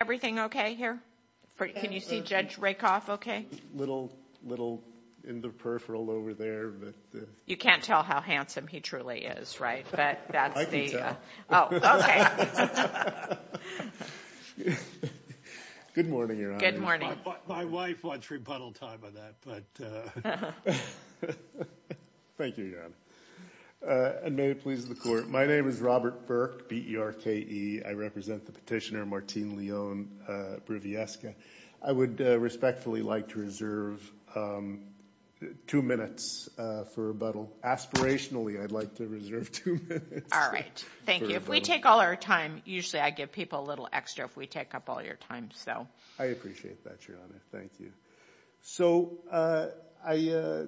Everything okay here? Can you see Judge Rakoff okay? A little in the peripheral over there. You can't tell how handsome he truly is, right? I can tell. Oh, okay. Good morning, Your Honor. Good morning. My wife wants rebuttal time on that. Thank you, Your Honor. And may it please the Court. My name is Robert Burke, B-E-R-K-E. I represent the petitioner Martine Leon-Briviesca. I would respectfully like to reserve two minutes for rebuttal. Aspirationally, I'd like to reserve two minutes. All right. Thank you. If we take all our time, usually I give people a little extra if we take up all your time. I appreciate that, Your Honor. Thank you. So I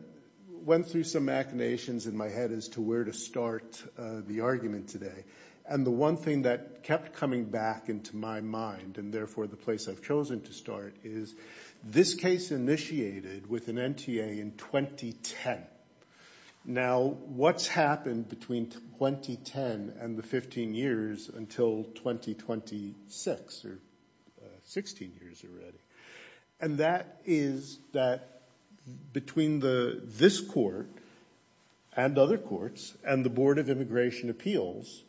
went through some machinations in my head as to where to start the argument today. And the one thing that kept coming back into my mind, and therefore the place I've chosen to start, is this case initiated with an NTA in 2010. Now, what's happened between 2010 and the 15 years until 2026, or 16 years already? And that is that between this court and other courts and the Board of Immigration Appeals,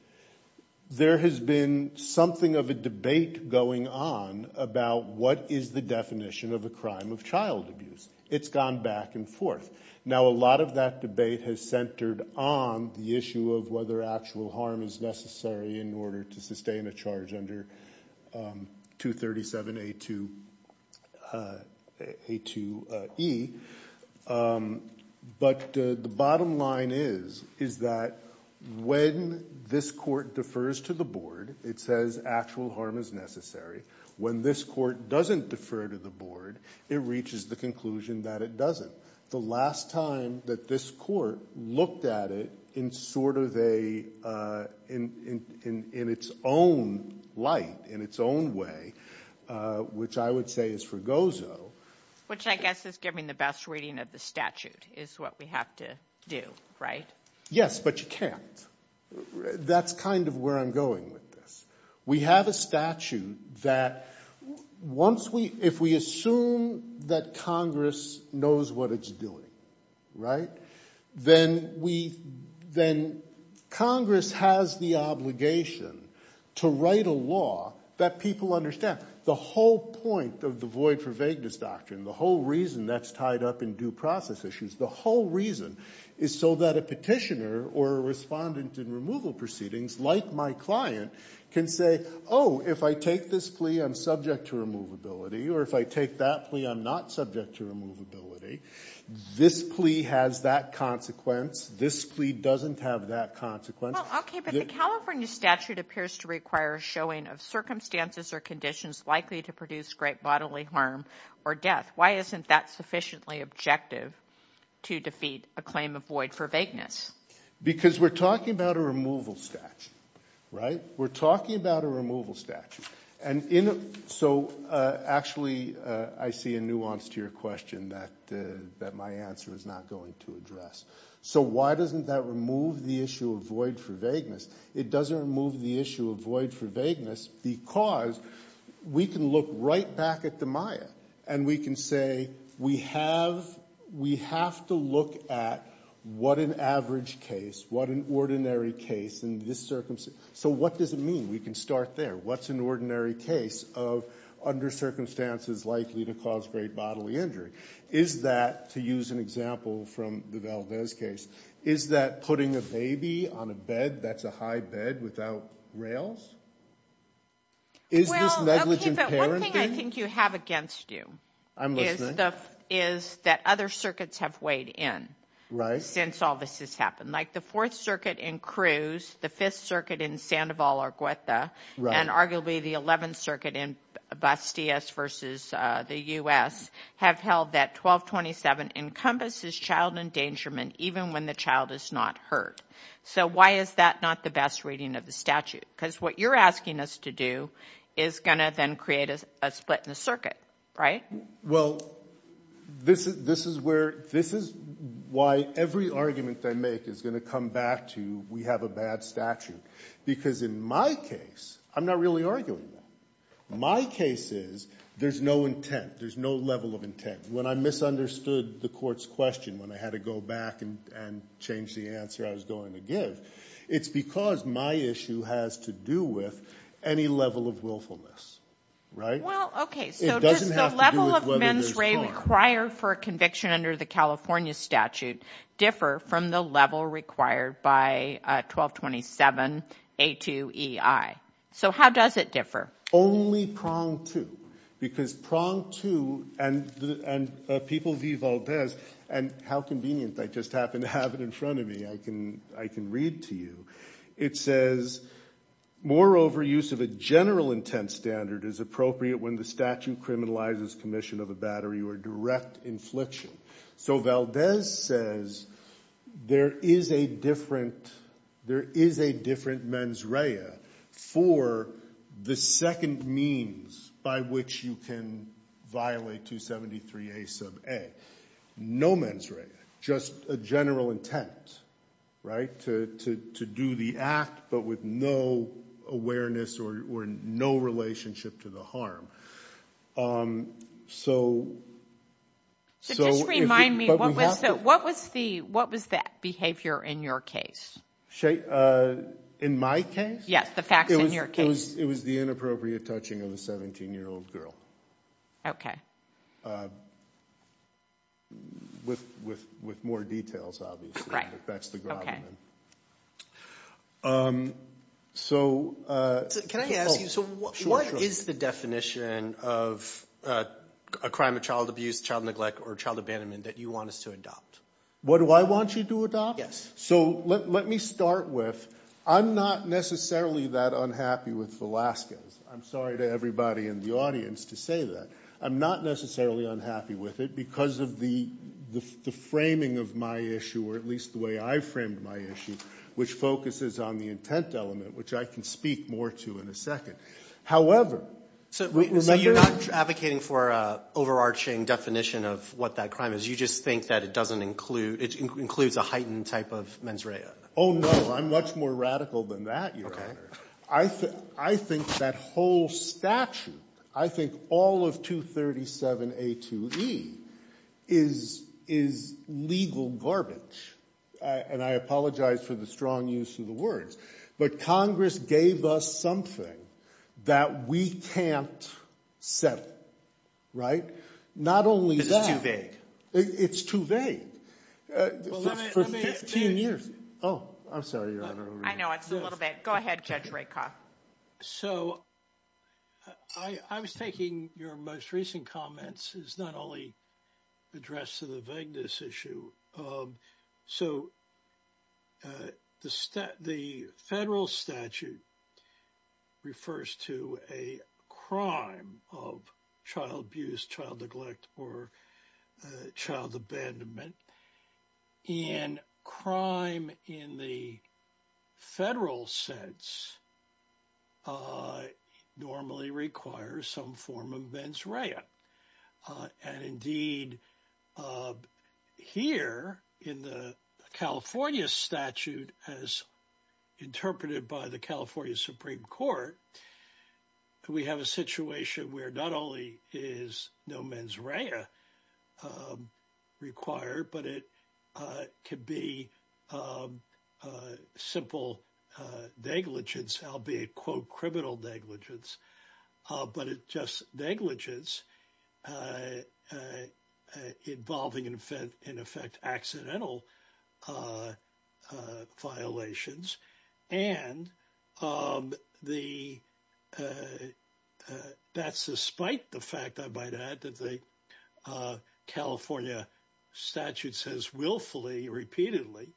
there has been something of a debate going on about what is the definition of a crime of child abuse. It's gone back and forth. Now, a lot of that debate has centered on the issue of whether actual harm is necessary in order to sustain a charge under 237A2E. But the bottom line is that when this court defers to the board, it says actual harm is necessary. When this court doesn't defer to the board, it reaches the conclusion that it doesn't. The last time that this court looked at it in sort of a, in its own light, in its own way, which I would say is for Gozo. Which I guess is giving the best reading of the statute is what we have to do, right? Yes, but you can't. That's kind of where I'm going with this. We have a statute that once we, if we assume that Congress knows what it's doing, right? Then we, then Congress has the obligation to write a law that people understand. The whole point of the void for vagueness doctrine, the whole reason that's tied up in due process issues, the whole reason is so that a petitioner or a respondent in removal proceedings, like my client, can say, oh, if I take this plea, I'm subject to removability. Or if I take that plea, I'm not subject to removability. This plea has that consequence. This plea doesn't have that consequence. Well, okay, but the California statute appears to require a showing of circumstances or conditions likely to produce great bodily harm or death. Why isn't that sufficiently objective to defeat a claim of void for vagueness? Because we're talking about a removal statute, right? We're talking about a removal statute. And so actually I see a nuance to your question that my answer is not going to address. So why doesn't that remove the issue of void for vagueness? It doesn't remove the issue of void for vagueness because we can look right back at the Maya and we can say we have to look at what an average case, what an ordinary case in this circumstance. So what does it mean? We can start there. What's an ordinary case of under circumstances likely to cause great bodily injury? Is that, to use an example from the Valdez case, is that putting a baby on a bed that's a high bed without rails? Is this negligent parenting? One thing I think you have against you is that other circuits have weighed in since all this has happened. Like the Fourth Circuit in Cruz, the Fifth Circuit in Sandoval or Guetta, and arguably the Eleventh Circuit in Bastillas versus the U.S. have held that 1227 encompasses child endangerment even when the child is not hurt. So why is that not the best reading of the statute? Because what you're asking us to do is going to then create a split in the circuit, right? Well, this is why every argument I make is going to come back to we have a bad statute because in my case I'm not really arguing that. My case is there's no intent. There's no level of intent. When I misunderstood the court's question, when I had to go back and change the answer I was going to give, it's because my issue has to do with any level of willfulness, right? Well, okay. So does the level of mens rea required for a conviction under the California statute differ from the level required by 1227A2EI? So how does it differ? Only prong two, because prong two and people v. Valdez, and how convenient I just happen to have it in front of me. I can read to you. It says, moreover, use of a general intent standard is appropriate when the statute criminalizes commission of a battery or direct infliction. So Valdez says there is a different mens rea for the second means by which you can violate 273A sub a. No mens rea, just a general intent, right, to do the act, but with no awareness or no relationship to the harm. So just remind me, what was that behavior in your case? In my case? Yes, the facts in your case. It was the inappropriate touching of a 17-year-old girl. Okay. With more details, obviously. That's the grommet. Can I ask you, so what is the definition of a crime of child abuse, child neglect, or child abandonment that you want us to adopt? What do I want you to adopt? Yes. So let me start with, I'm not necessarily that unhappy with Velazquez. I'm sorry to everybody in the audience to say that. I'm not necessarily unhappy with it because of the framing of my issue, or at least the way I framed my issue, which focuses on the intent element, which I can speak more to in a second. However, remember that? So you're not advocating for an overarching definition of what that crime is. You just think that it includes a heightened type of mens rea. Oh, no. I'm much more radical than that, Your Honor. Okay. I think that whole statute, I think all of 237A2E is legal garbage. And I apologize for the strong use of the words. But Congress gave us something that we can't settle, right? Not only that. It's too vague. It's too vague. For 15 years. Oh, I'm sorry, Your Honor. I know. It's a little vague. Go ahead, Judge Rakoff. So I was thinking your most recent comments is not only addressed to the vagueness issue. So the federal statute refers to a crime of child abuse, child neglect, or child abandonment. And crime in the federal sense normally requires some form of mens rea. And indeed, here in the California statute, as interpreted by the California Supreme Court, we have a situation where not only is no mens rea required, but it could be simple negligence, albeit, quote, criminal negligence, but it's just negligence involving, in effect, accidental violations. And that's despite the fact, I might add, that the California statute says willfully, repeatedly.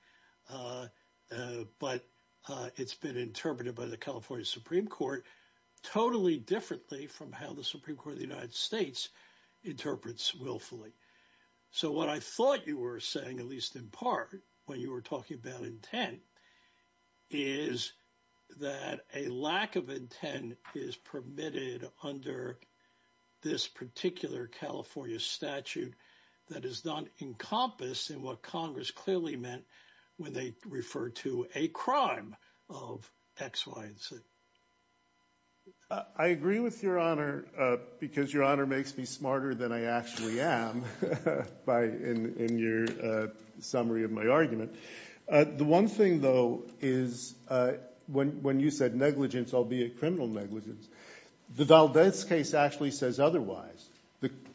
But it's been interpreted by the California Supreme Court totally differently from how the Supreme Court of the United States interprets willfully. So what I thought you were saying, at least in part, when you were talking about intent, is that a lack of intent is permitted under this particular California statute that is not encompassed in what Congress clearly meant when they referred to a crime of X, Y, and Z. I agree with Your Honor because Your Honor makes me smarter than I actually am in your summary of my argument. The one thing, though, is when you said negligence, albeit criminal negligence, the Valdez case actually says otherwise.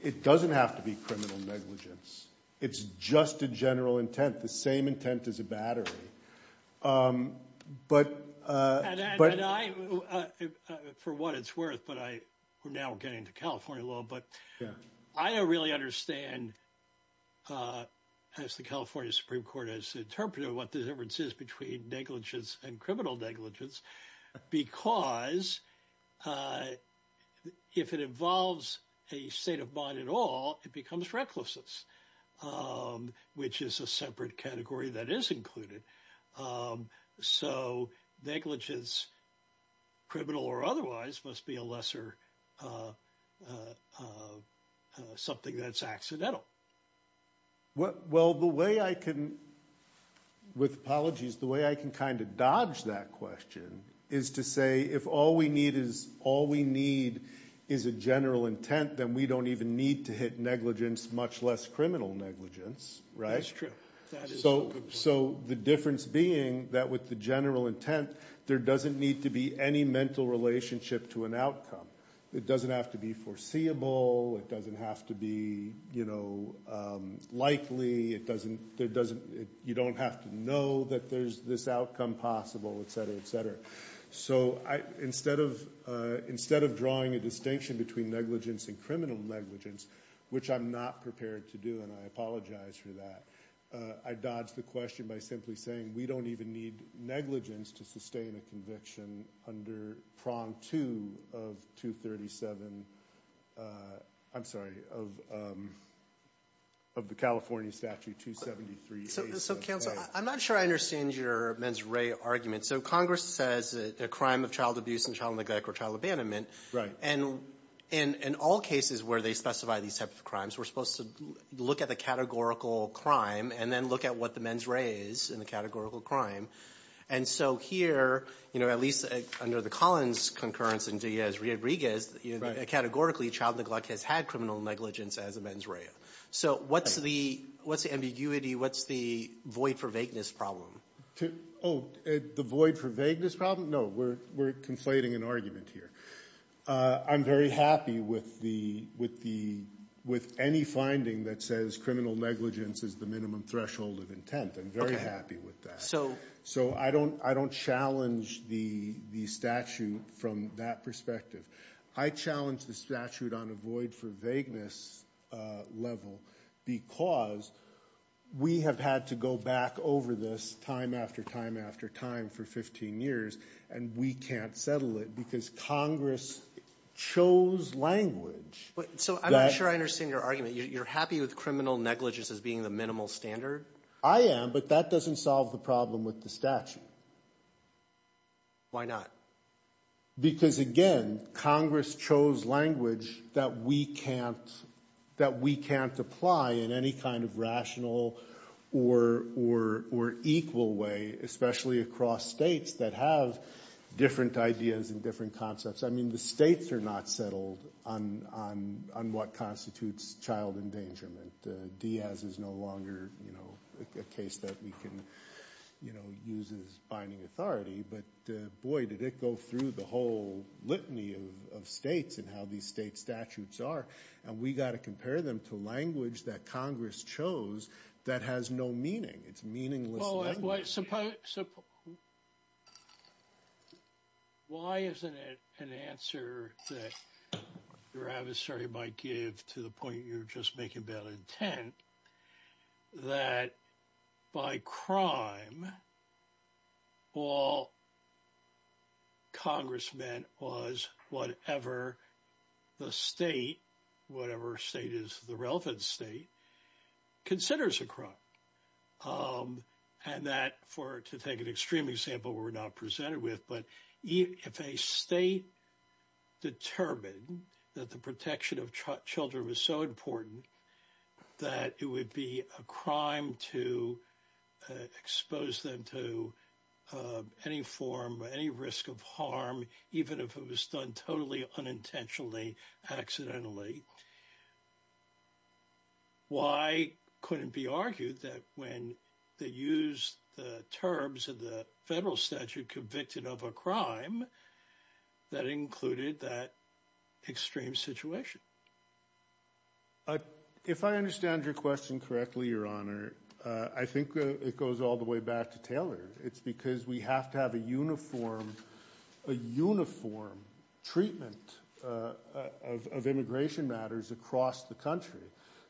It doesn't have to be criminal negligence. It's just a general intent, the same intent as a battery. And I, for what it's worth, but we're now getting to California law, but I don't really understand, as the California Supreme Court has interpreted it, what the difference is between negligence and criminal negligence because if it involves a state of mind at all, it becomes recklessness, which is a separate category that is included. So negligence, criminal or otherwise, must be a lesser something that's accidental. Well, the way I can, with apologies, the way I can kind of dodge that question is to say if all we need is a general intent, then we don't even need to hit negligence, much less criminal negligence. That's true. So the difference being that with the general intent, there doesn't need to be any mental relationship to an outcome. It doesn't have to be foreseeable. It doesn't have to be likely. You don't have to know that there's this outcome possible, et cetera, et cetera. So instead of drawing a distinction between negligence and criminal negligence, which I'm not prepared to do, and I apologize for that, I dodged the question by simply saying we don't even need negligence to sustain a conviction under prong two of 237. I'm sorry, of the California Statute 273A. So counsel, I'm not sure I understand your mens re argument. So Congress says a crime of child abuse and child neglect or child abandonment. And in all cases where they specify these types of crimes, we're supposed to look at the categorical crime and then look at what the mens re is in the categorical crime. And so here, you know, at least under the Collins concurrence and Diaz-Riad-Riguez, categorically child neglect has had criminal negligence as a mens re. So what's the ambiguity? What's the void for vagueness problem? Oh, the void for vagueness problem? No, we're conflating an argument here. I'm very happy with any finding that says criminal negligence is the minimum threshold of intent. I'm very happy with that. So I don't challenge the statute from that perspective. I challenge the statute on a void for vagueness level because we have had to go back over this time after time after time for 15 years. And we can't settle it because Congress chose language. So I'm not sure I understand your argument. You're happy with criminal negligence as being the minimal standard? I am, but that doesn't solve the problem with the statute. Why not? Because, again, Congress chose language that we can't apply in any kind of rational or equal way, especially across states that have different ideas and different concepts. I mean the states are not settled on what constitutes child endangerment. Diaz is no longer a case that we can use as binding authority. But, boy, did it go through the whole litany of states and how these state statutes are. And we got to compare them to language that Congress chose that has no meaning. It's meaningless language. But why isn't it an answer that your adversary might give to the point you're just making bad intent that by crime all Congress meant was whatever the state, whatever state is the relevant state, considers a crime? And that, to take an extreme example, we're not presented with. But if a state determined that the protection of children was so important that it would be a crime to expose them to any form, any risk of harm, even if it was done totally unintentionally, accidentally. Why couldn't it be argued that when they use the terms of the federal statute convicted of a crime that included that extreme situation? If I understand your question correctly, Your Honor, I think it goes all the way back to Taylor. It's because we have to have a uniform treatment of immigration matters across the country.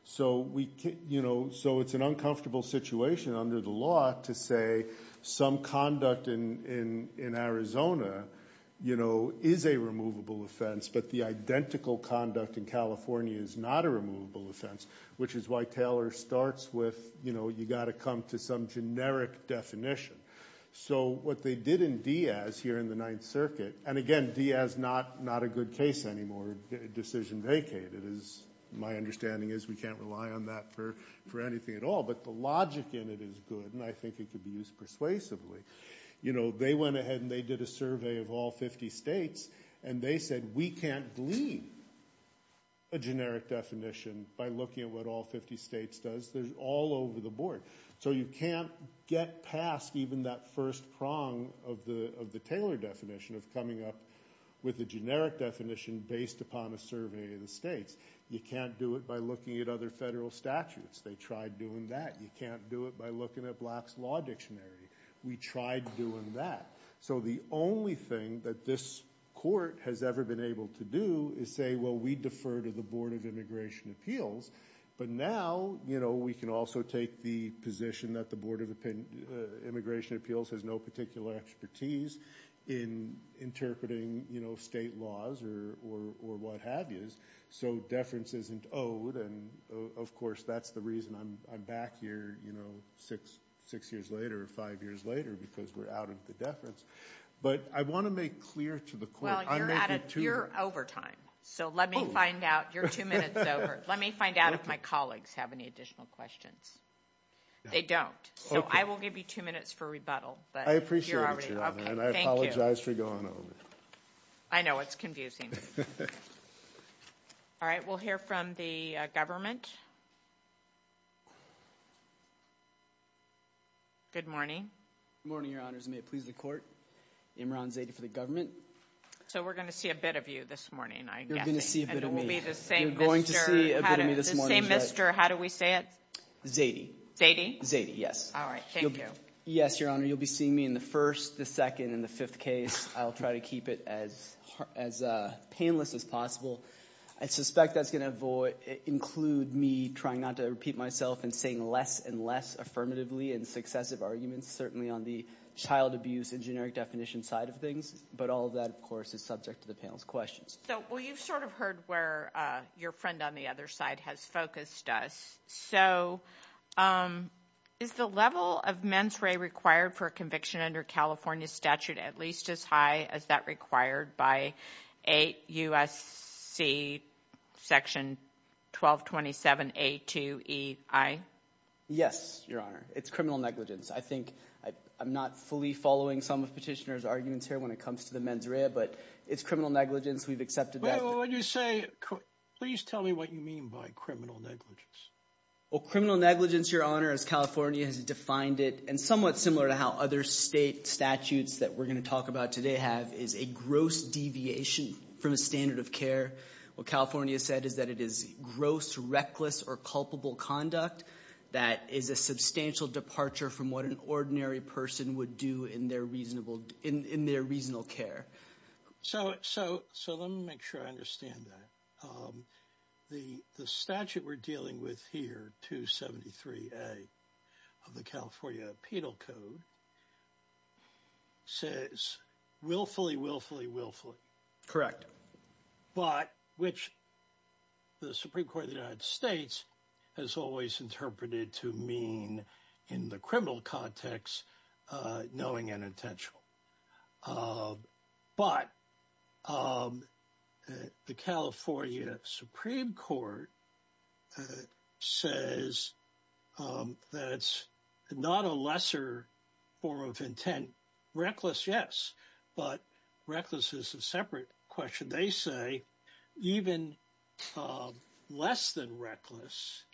So it's an uncomfortable situation under the law to say some conduct in Arizona is a removable offense, but the identical conduct in California is not a removable offense, which is why Taylor starts with you've got to come to some generic definition. So what they did in Diaz here in the Ninth Circuit – and again, Diaz, not a good case anymore, decision vacated. My understanding is we can't rely on that for anything at all, but the logic in it is good, and I think it could be used persuasively. They went ahead and they did a survey of all 50 states, and they said we can't glean a generic definition by looking at what all 50 states does. So you can't get past even that first prong of the Taylor definition of coming up with a generic definition based upon a survey of the states. You can't do it by looking at other federal statutes. They tried doing that. You can't do it by looking at Black's Law Dictionary. We tried doing that. So the only thing that this court has ever been able to do is say, well, we defer to the Board of Immigration Appeals, but now we can also take the position that the Board of Immigration Appeals has no particular expertise in interpreting state laws or what have you. So deference isn't owed, and of course that's the reason I'm back here six years later or five years later, because we're out of the deference. But I want to make clear to the court. I'm making two minutes. Well, you're over time, so let me find out. You're two minutes over. Let me find out if my colleagues have any additional questions. They don't. So I will give you two minutes for rebuttal, but you're already over. I appreciate you, Heather, and I apologize for going over. I know it's confusing. All right, we'll hear from the government. Good morning. Good morning, Your Honors. May it please the court. Imran Zaidi for the government. So we're going to see a bit of you this morning, I guess. You're going to see a bit of me. And it will be the same Mr. How do we say it? Zaidi. Zaidi? Zaidi, yes. All right, thank you. Yes, Your Honor. You'll be seeing me in the first, the second, and the fifth case. I'll try to keep it as painless as possible. I suspect that's going to include me trying not to repeat myself and saying less and less affirmatively in successive arguments, certainly on the child abuse and generic definition side of things. But all of that, of course, is subject to the panel's questions. Well, you've sort of heard where your friend on the other side has focused us. So is the level of mens rea required for a conviction under California statute at least as high as that required by 8 U.S.C. section 1227A2EI? Yes, Your Honor. It's criminal negligence. I think I'm not fully following some of Petitioner's arguments here when it comes to the mens rea, but it's criminal negligence. We've accepted that. So when you say criminal negligence, please tell me what you mean by criminal negligence. Well, criminal negligence, Your Honor, as California has defined it, and somewhat similar to how other state statutes that we're going to talk about today have, is a gross deviation from a standard of care. What California said is that it is gross, reckless, or culpable conduct that is a substantial departure from what an ordinary person would do in their reasonable care. So let me make sure I understand that. The statute we're dealing with here, 273A of the California Penal Code, says willfully, willfully, willfully. Correct. But which the Supreme Court of the United States has always interpreted to mean in the criminal context, knowing and intentional. But the California Supreme Court says that it's not a lesser form of intent. Reckless, yes, but reckless is a separate question. They say even less than reckless,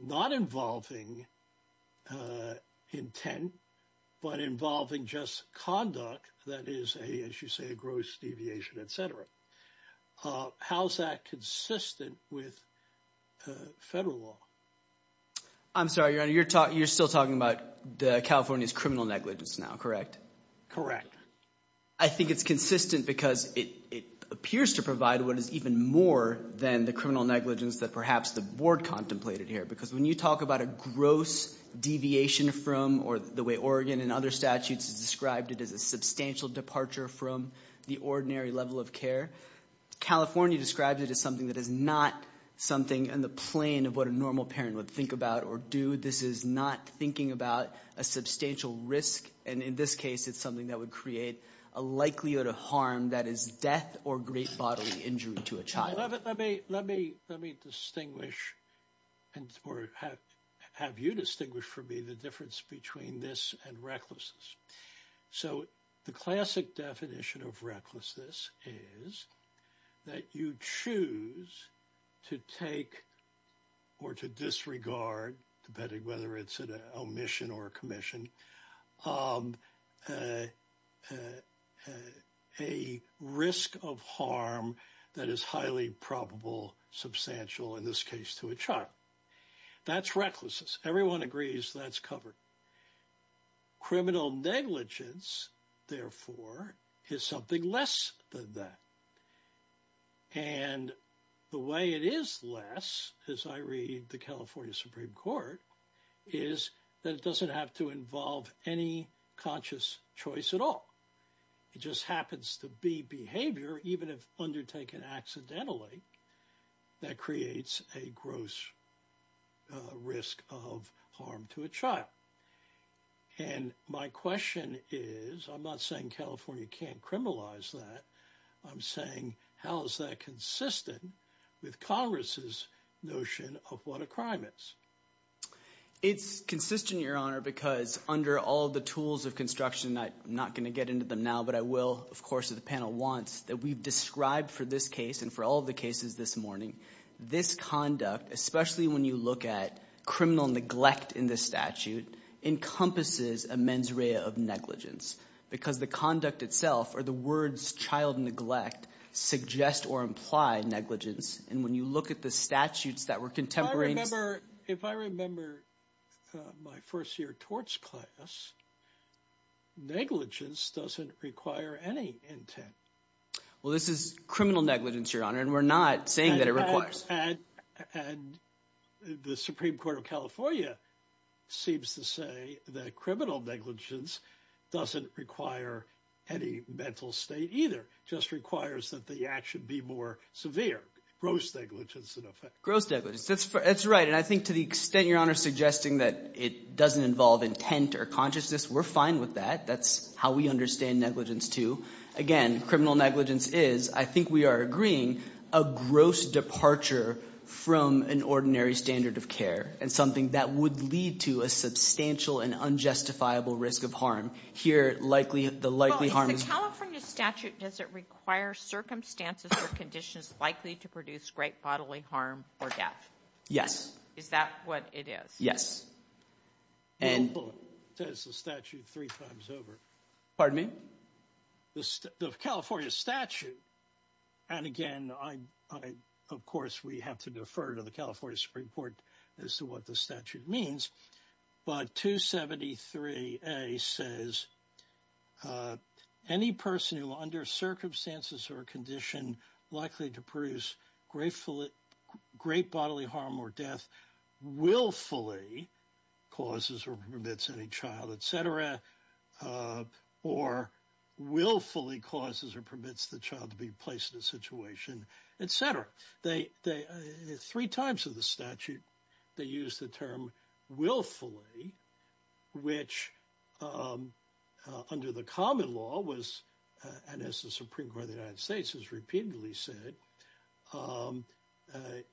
not involving intent, but involving just conduct that is, as you say, a gross deviation, et cetera. How is that consistent with federal law? I'm sorry, Your Honor. You're still talking about California's criminal negligence now, correct? Correct. I think it's consistent because it appears to provide what is even more than the criminal negligence that perhaps the Board contemplated here. Because when you talk about a gross deviation from, or the way Oregon and other statutes have described it, as a substantial departure from the ordinary level of care, California describes it as something that is not something on the plane of what a normal parent would think about or do. This is not thinking about a substantial risk. And in this case, it's something that would create a likelihood of harm that is death or great bodily injury to a child. Let me distinguish or have you distinguish for me the difference between this and recklessness. So the classic definition of recklessness is that you choose to take or to disregard, depending whether it's an omission or a commission, a risk of harm that is highly probable, substantial, in this case, to a child. That's recklessness. Everyone agrees that's covered. Criminal negligence, therefore, is something less than that. And the way it is less, as I read the California Supreme Court, is that it doesn't have to involve any conscious choice at all. It just happens to be behavior, even if undertaken accidentally, that creates a gross risk of harm to a child. And my question is, I'm not saying California can't criminalize that. I'm saying how is that consistent with Congress's notion of what a crime is? It's consistent, Your Honor, because under all the tools of construction, I'm not going to get into them now, but I will, of course, if the panel wants, that we've described for this case and for all of the cases this morning, this conduct, especially when you look at criminal neglect in this statute, encompasses a mens rea of negligence because the conduct itself or the words child neglect suggest or imply negligence. And when you look at the statutes that were contemporary – If I remember my first year torts class, negligence doesn't require any intent. Well, this is criminal negligence, Your Honor, and we're not saying that it requires. And the Supreme Court of California seems to say that criminal negligence doesn't require any mental state either. It just requires that the action be more severe, gross negligence in effect. Gross negligence, that's right. And I think to the extent Your Honor is suggesting that it doesn't involve intent or consciousness, we're fine with that. That's how we understand negligence too. Again, criminal negligence is, I think we are agreeing, a gross departure from an ordinary standard of care and something that would lead to a substantial and unjustifiable risk of harm. The California statute, does it require circumstances or conditions likely to produce great bodily harm or death? Yes. Is that what it is? It says the statute three times over. Pardon me? The California statute, and again, of course, we have to defer to the California Supreme Court as to what the statute means. But 273A says, any person who under circumstances or condition likely to produce great bodily harm or death willfully causes or permits any child, etc., or willfully causes or permits the child to be placed in a situation, etc. There are three types of the statute. They use the term willfully, which under the common law was – and as the Supreme Court of the United States has repeatedly said,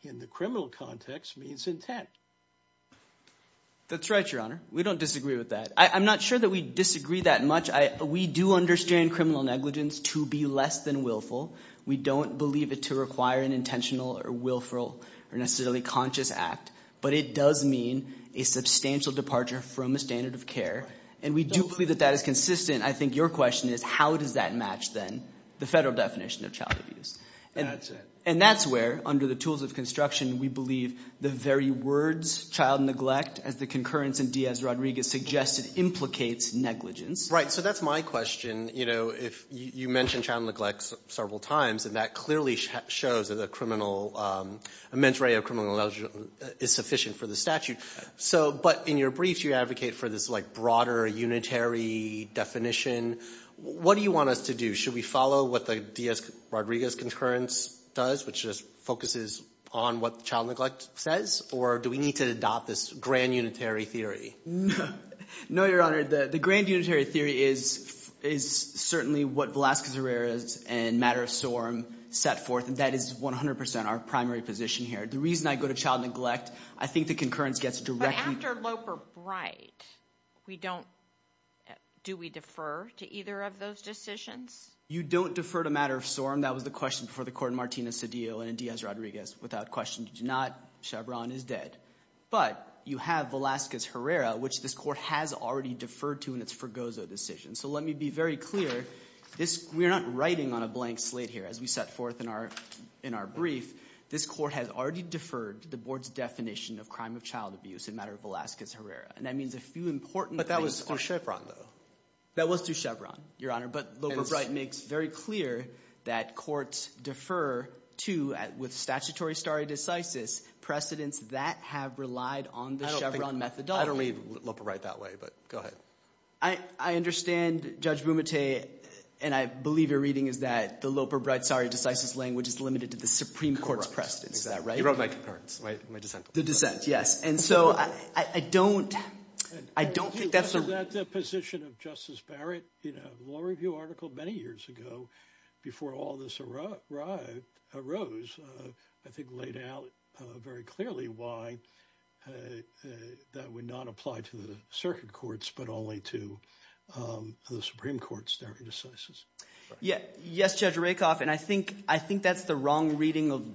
in the criminal context means intent. That's right, Your Honor. We don't disagree with that. I'm not sure that we disagree that much. We do understand criminal negligence to be less than willful. We don't believe it to require an intentional or willful or necessarily conscious act. But it does mean a substantial departure from the standard of care. And we do believe that that is consistent. I think your question is how does that match then the federal definition of child abuse? That's it. And that's where, under the tools of construction, we believe the very words child neglect, as the concurrence in Diaz-Rodriguez suggested, implicates negligence. Right. So that's my question. You mentioned child neglect several times, and that clearly shows that a criminal – a mens rea of criminal negligence is sufficient for the statute. But in your brief, you advocate for this, like, broader unitary definition. What do you want us to do? Should we follow what the Diaz-Rodriguez concurrence does, which just focuses on what child neglect says? Or do we need to adopt this grand unitary theory? No, Your Honor. The grand unitary theory is certainly what Velazquez-Herrera and matter of sorum set forth, and that is 100 percent our primary position here. The reason I go to child neglect, I think the concurrence gets directly – But after Loper-Bright, we don't – do we defer to either of those decisions? You don't defer to matter of sorum. That was the question before the court in Martinez-Cedillo and in Diaz-Rodriguez. Without question, you do not. Chevron is dead. But you have Velazquez-Herrera, which this court has already deferred to in its Fergozo decision. So let me be very clear. We're not writing on a blank slate here. As we set forth in our brief, this court has already deferred to the board's definition of crime of child abuse in matter of Velazquez-Herrera. And that means a few important things. But that was through Chevron though. That was through Chevron, Your Honor. But Loper-Bright makes very clear that courts defer to, with statutory stare decisis, precedents that have relied on the Chevron methodology. I don't read Loper-Bright that way, but go ahead. I understand, Judge Bumate, and I believe your reading is that the Loper-Bright stare decisis language is limited to the Supreme Court's precedents. Is that right? You wrote my concurrence, my dissent. The dissent, yes. And so I don't think that's a – The dissent of Justice Barrett in a law review article many years ago before all this arose I think laid out very clearly why that would not apply to the circuit courts but only to the Supreme Court's stare decisis. Yes, Judge Rakoff, and I think that's the wrong reading of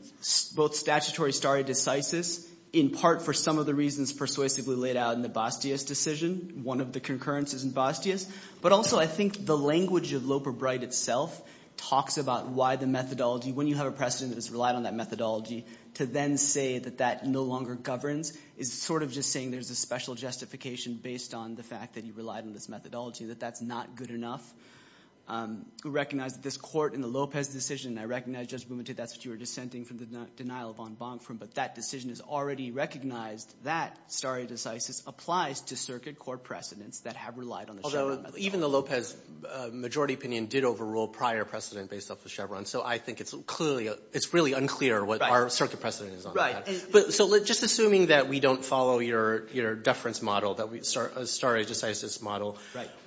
both statutory stare decisis in part for some of the reasons persuasively laid out in the Bastia's decision. One of the concurrences in Bastia's. But also I think the language of Loper-Bright itself talks about why the methodology – when you have a precedent that's relied on that methodology, to then say that that no longer governs is sort of just saying there's a special justification based on the fact that you relied on this methodology, that that's not good enough. We recognize that this court in the Lopez decision – and I recognize, Judge Bumenthal, that's what you were dissenting from the denial of von Bonk from. But that decision is already recognized that stare decisis applies to circuit court precedents that have relied on the Chevron methodology. Although even the Lopez majority opinion did overrule prior precedent based off of Chevron. So I think it's clearly – it's really unclear what our circuit precedent is on that. Right. So just assuming that we don't follow your deference model, that we – stare decisis model,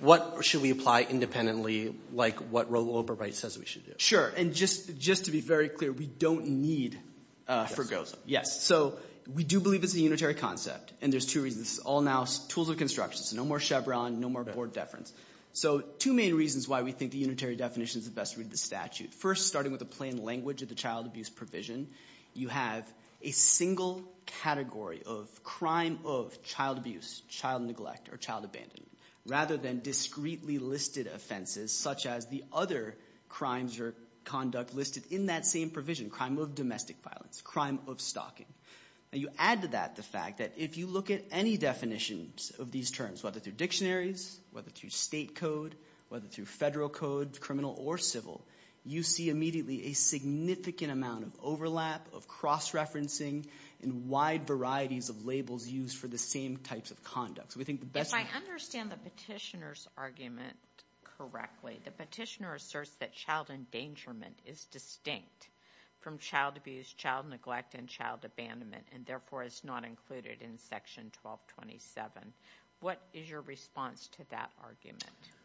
what should we apply independently, like what Loper-Bright says we should do? Sure, and just to be very clear, we don't need – Yes. Yes. So we do believe it's a unitary concept, and there's two reasons. It's all now tools of construction, so no more Chevron, no more board deference. So two main reasons why we think the unitary definition is the best way to read the statute. First, starting with the plain language of the child abuse provision, you have a single category of crime of child abuse, child neglect, or child abandonment. Rather than discretely listed offenses such as the other crimes or conduct listed in that same provision, crime of domestic violence, crime of stalking. Now you add to that the fact that if you look at any definitions of these terms, whether through dictionaries, whether through state code, whether through federal code, criminal or civil, you see immediately a significant amount of overlap, of cross-referencing, and wide varieties of labels used for the same types of conduct. So we think the best – If I understand the petitioner's argument correctly, the petitioner asserts that child endangerment is distinct from child abuse, child neglect, and child abandonment, and therefore is not included in Section 1227. What is your response to that argument?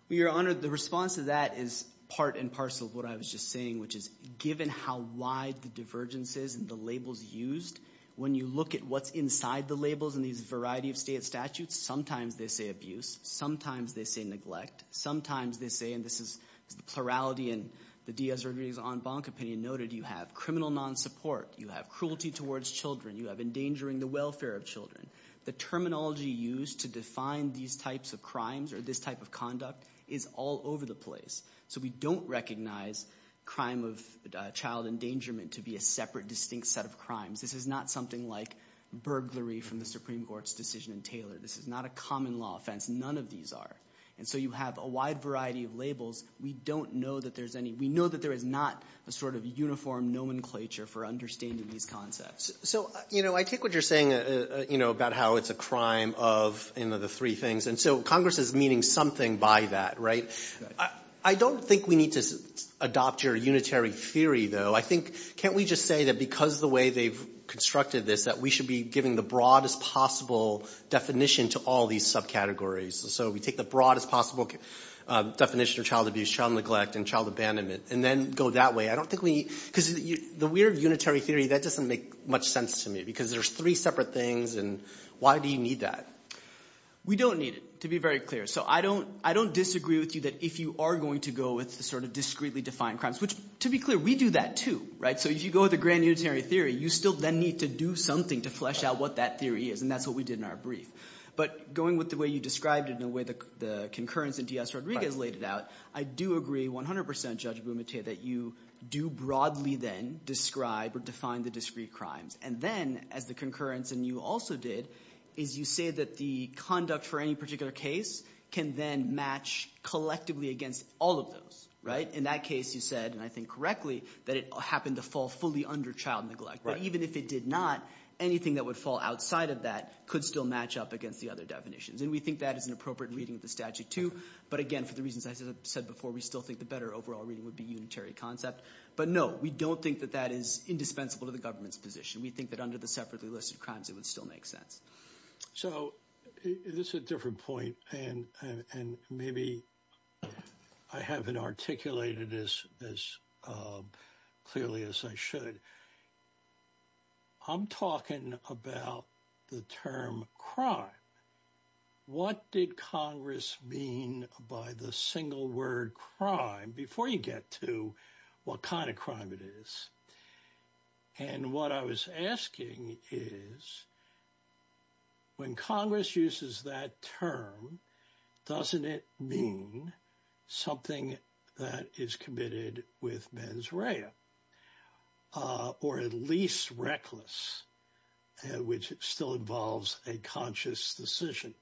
Well, Your Honor, the response to that is part and parcel of what I was just saying, which is given how wide the divergence is and the labels used, when you look at what's inside the labels in these variety of state statutes, sometimes they say abuse. Sometimes they say neglect. Sometimes they say – and this is the plurality in the Diaz-Rodriguez-Ann Bonk opinion noted – you have criminal non-support. You have cruelty towards children. You have endangering the welfare of children. The terminology used to define these types of crimes or this type of conduct is all over the place. So we don't recognize crime of child endangerment to be a separate, distinct set of crimes. This is not something like burglary from the Supreme Court's decision in Taylor. This is not a common law offense. None of these are. And so you have a wide variety of labels. We don't know that there's any – we know that there is not a sort of uniform nomenclature for understanding these concepts. So I take what you're saying about how it's a crime of the three things. And so Congress is meaning something by that, right? I don't think we need to adopt your unitary theory, though. I think – can't we just say that because of the way they've constructed this, that we should be giving the broadest possible definition to all these subcategories? So we take the broadest possible definition of child abuse, child neglect, and child abandonment and then go that way. I don't think we – because the weird unitary theory, that doesn't make much sense to me because there's three separate things, and why do you need that? We don't need it, to be very clear. So I don't disagree with you that if you are going to go with the sort of discreetly defined crimes, which to be clear, we do that too. So if you go with a grand unitary theory, you still then need to do something to flesh out what that theory is, and that's what we did in our brief. But going with the way you described it and the way the concurrence in Diaz-Rodriguez laid it out, I do agree 100 percent, Judge Bumate, that you do broadly then describe or define the discreet crimes. And then, as the concurrence in you also did, is you say that the conduct for any particular case can then match collectively against all of those. In that case, you said, and I think correctly, that it happened to fall fully under child neglect. But even if it did not, anything that would fall outside of that could still match up against the other definitions, and we think that is an appropriate reading of the statute too. But again, for the reasons I said before, we still think the better overall reading would be unitary concept. But no, we don't think that that is indispensable to the government's position. We think that under the separately listed crimes, it would still make sense. So, this is a different point, and maybe I haven't articulated this as clearly as I should. I'm talking about the term crime. What did Congress mean by the single word crime? Before you get to what kind of crime it is. And what I was asking is, when Congress uses that term, doesn't it mean something that is committed with mens rea? Or at least reckless, which still involves a conscious decision.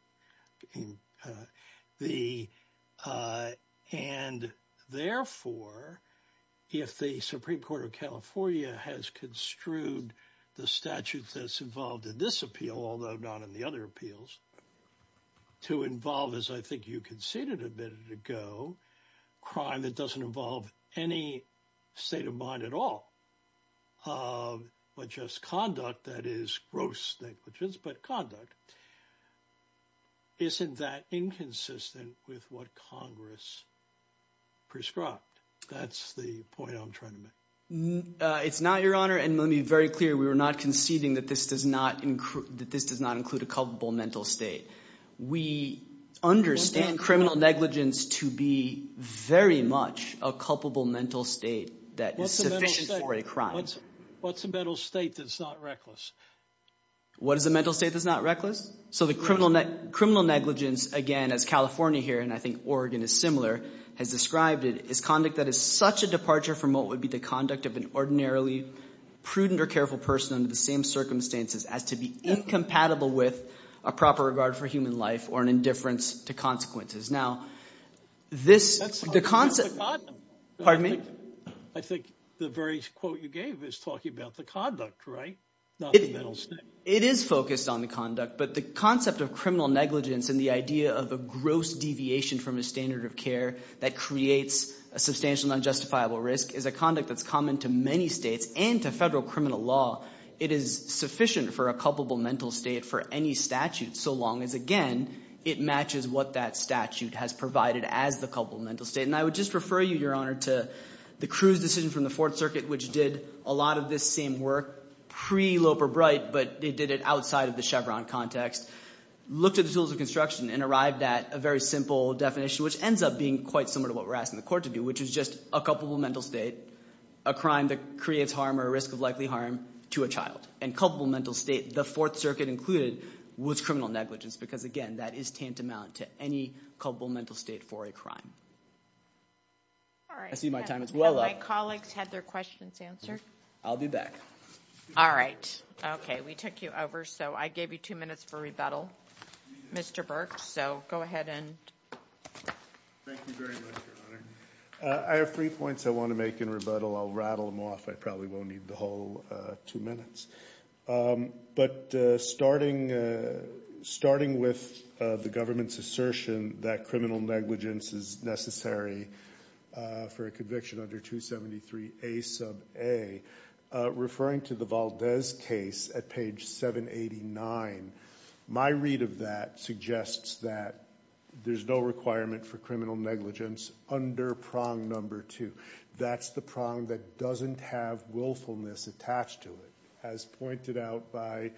And therefore, if the Supreme Court of California has construed the statute that's involved in this appeal, although not in the other appeals, to involve, as I think you conceded a minute ago, crime that doesn't involve any state of mind at all. But just conduct that is gross negligence, but conduct. Isn't that inconsistent with what Congress prescribed? That's the point I'm trying to make. It's not, Your Honor, and let me be very clear. We were not conceding that this does not include a culpable mental state. We understand criminal negligence to be very much a culpable mental state that is sufficient for a crime. What's a mental state that's not reckless? What is a mental state that's not reckless? So the criminal negligence, again, as California here, and I think Oregon is similar, has described it as conduct that is such a departure from what would be the conduct of an ordinarily prudent or careful person under the same circumstances as to be incompatible with a proper regard for human life or an indifference to consequences. Now, this – the – pardon me? I think the very quote you gave is talking about the conduct, right, not the mental state. It is focused on the conduct, but the concept of criminal negligence and the idea of a gross deviation from a standard of care that creates a substantial and unjustifiable risk is a conduct that's common to many states and to federal criminal law. It is sufficient for a culpable mental state for any statute so long as, again, it matches what that statute has provided as the culpable mental state. And I would just refer you, Your Honor, to the Cruz decision from the Fourth Circuit, which did a lot of this same work pre-Loper-Bright, but they did it outside of the Chevron context. Looked at the tools of construction and arrived at a very simple definition, which ends up being quite similar to what we're asking the court to do, which is just a culpable mental state, a crime that creates harm or a risk of likely harm to a child. And culpable mental state, the Fourth Circuit included, was criminal negligence because, again, that is tantamount to any culpable mental state for a crime. All right. I see my time is well up. My colleagues had their questions answered. I'll be back. All right. Okay. We took you over, so I gave you two minutes for rebuttal, Mr. Burke. So go ahead and – Thank you very much, Your Honor. I have three points I want to make in rebuttal. I'll rattle them off. I probably won't need the whole two minutes. But starting with the government's assertion that criminal negligence is necessary for a conviction under 273A sub A, referring to the Valdez case at page 789, my read of that suggests that there's no requirement for criminal negligence under prong number two. That's the prong that doesn't have willfulness attached to it. As pointed out by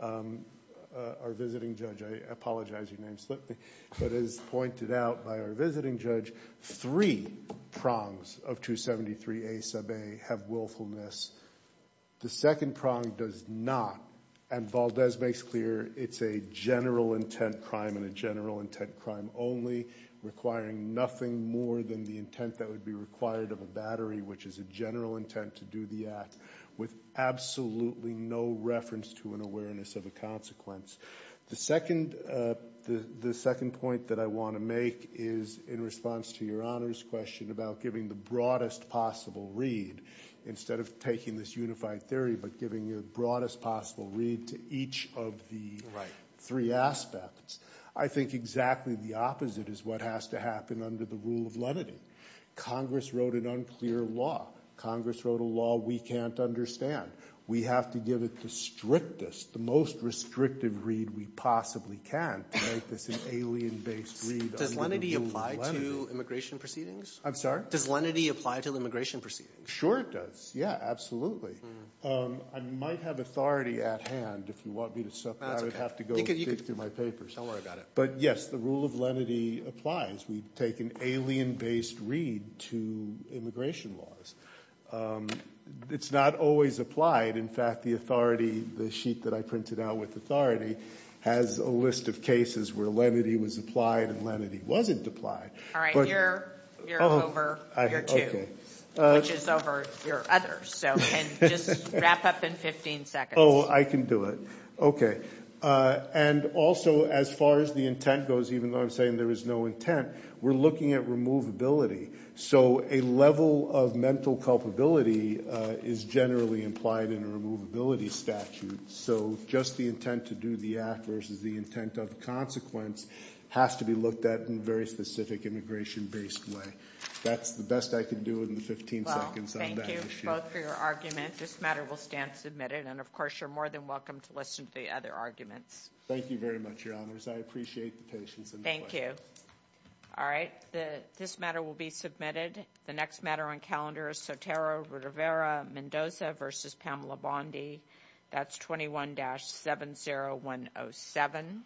our visiting judge – I apologize, your name slipped me. But as pointed out by our visiting judge, three prongs of 273A sub A have willfulness. The second prong does not. And Valdez makes clear it's a general intent crime and a general intent crime only, requiring nothing more than the intent that would be required of a battery, which is a general intent to do the act, with absolutely no reference to an awareness of a consequence. The second point that I want to make is in response to your Honor's question about giving the broadest possible read, instead of taking this unified theory but giving the broadest possible read to each of the three aspects, I think exactly the opposite is what has to happen under the rule of lenity. Congress wrote an unclear law. Congress wrote a law we can't understand. We have to give it the strictest, the most restrictive read we possibly can to make this an alien-based read under the rule of lenity. Does lenity apply to immigration proceedings? I'm sorry? Does lenity apply to immigration proceedings? Sure it does. Yeah, absolutely. I might have authority at hand if you want me to separate. I would have to go dig through my papers. Don't worry about it. But yes, the rule of lenity applies. We take an alien-based read to immigration laws. It's not always applied. In fact, the authority, the sheet that I printed out with authority, has a list of cases where lenity was applied and lenity wasn't applied. All right, you're over your two, which is over your others. So just wrap up in 15 seconds. Oh, I can do it. Okay. And also, as far as the intent goes, even though I'm saying there is no intent, we're looking at removability. So a level of mental culpability is generally implied in a removability statute. So just the intent to do the act versus the intent of consequence has to be looked at in a very specific immigration-based way. That's the best I can do in the 15 seconds on that issue. Well, thank you both for your argument. This matter will stand submitted. And, of course, you're more than welcome to listen to the other arguments. Thank you very much, Your Honors. I appreciate the patience and the questions. Thank you. All right, this matter will be submitted. The next matter on calendar is Sotero, Rivera, Mendoza v. Pamela Bondi. That's 21-70107.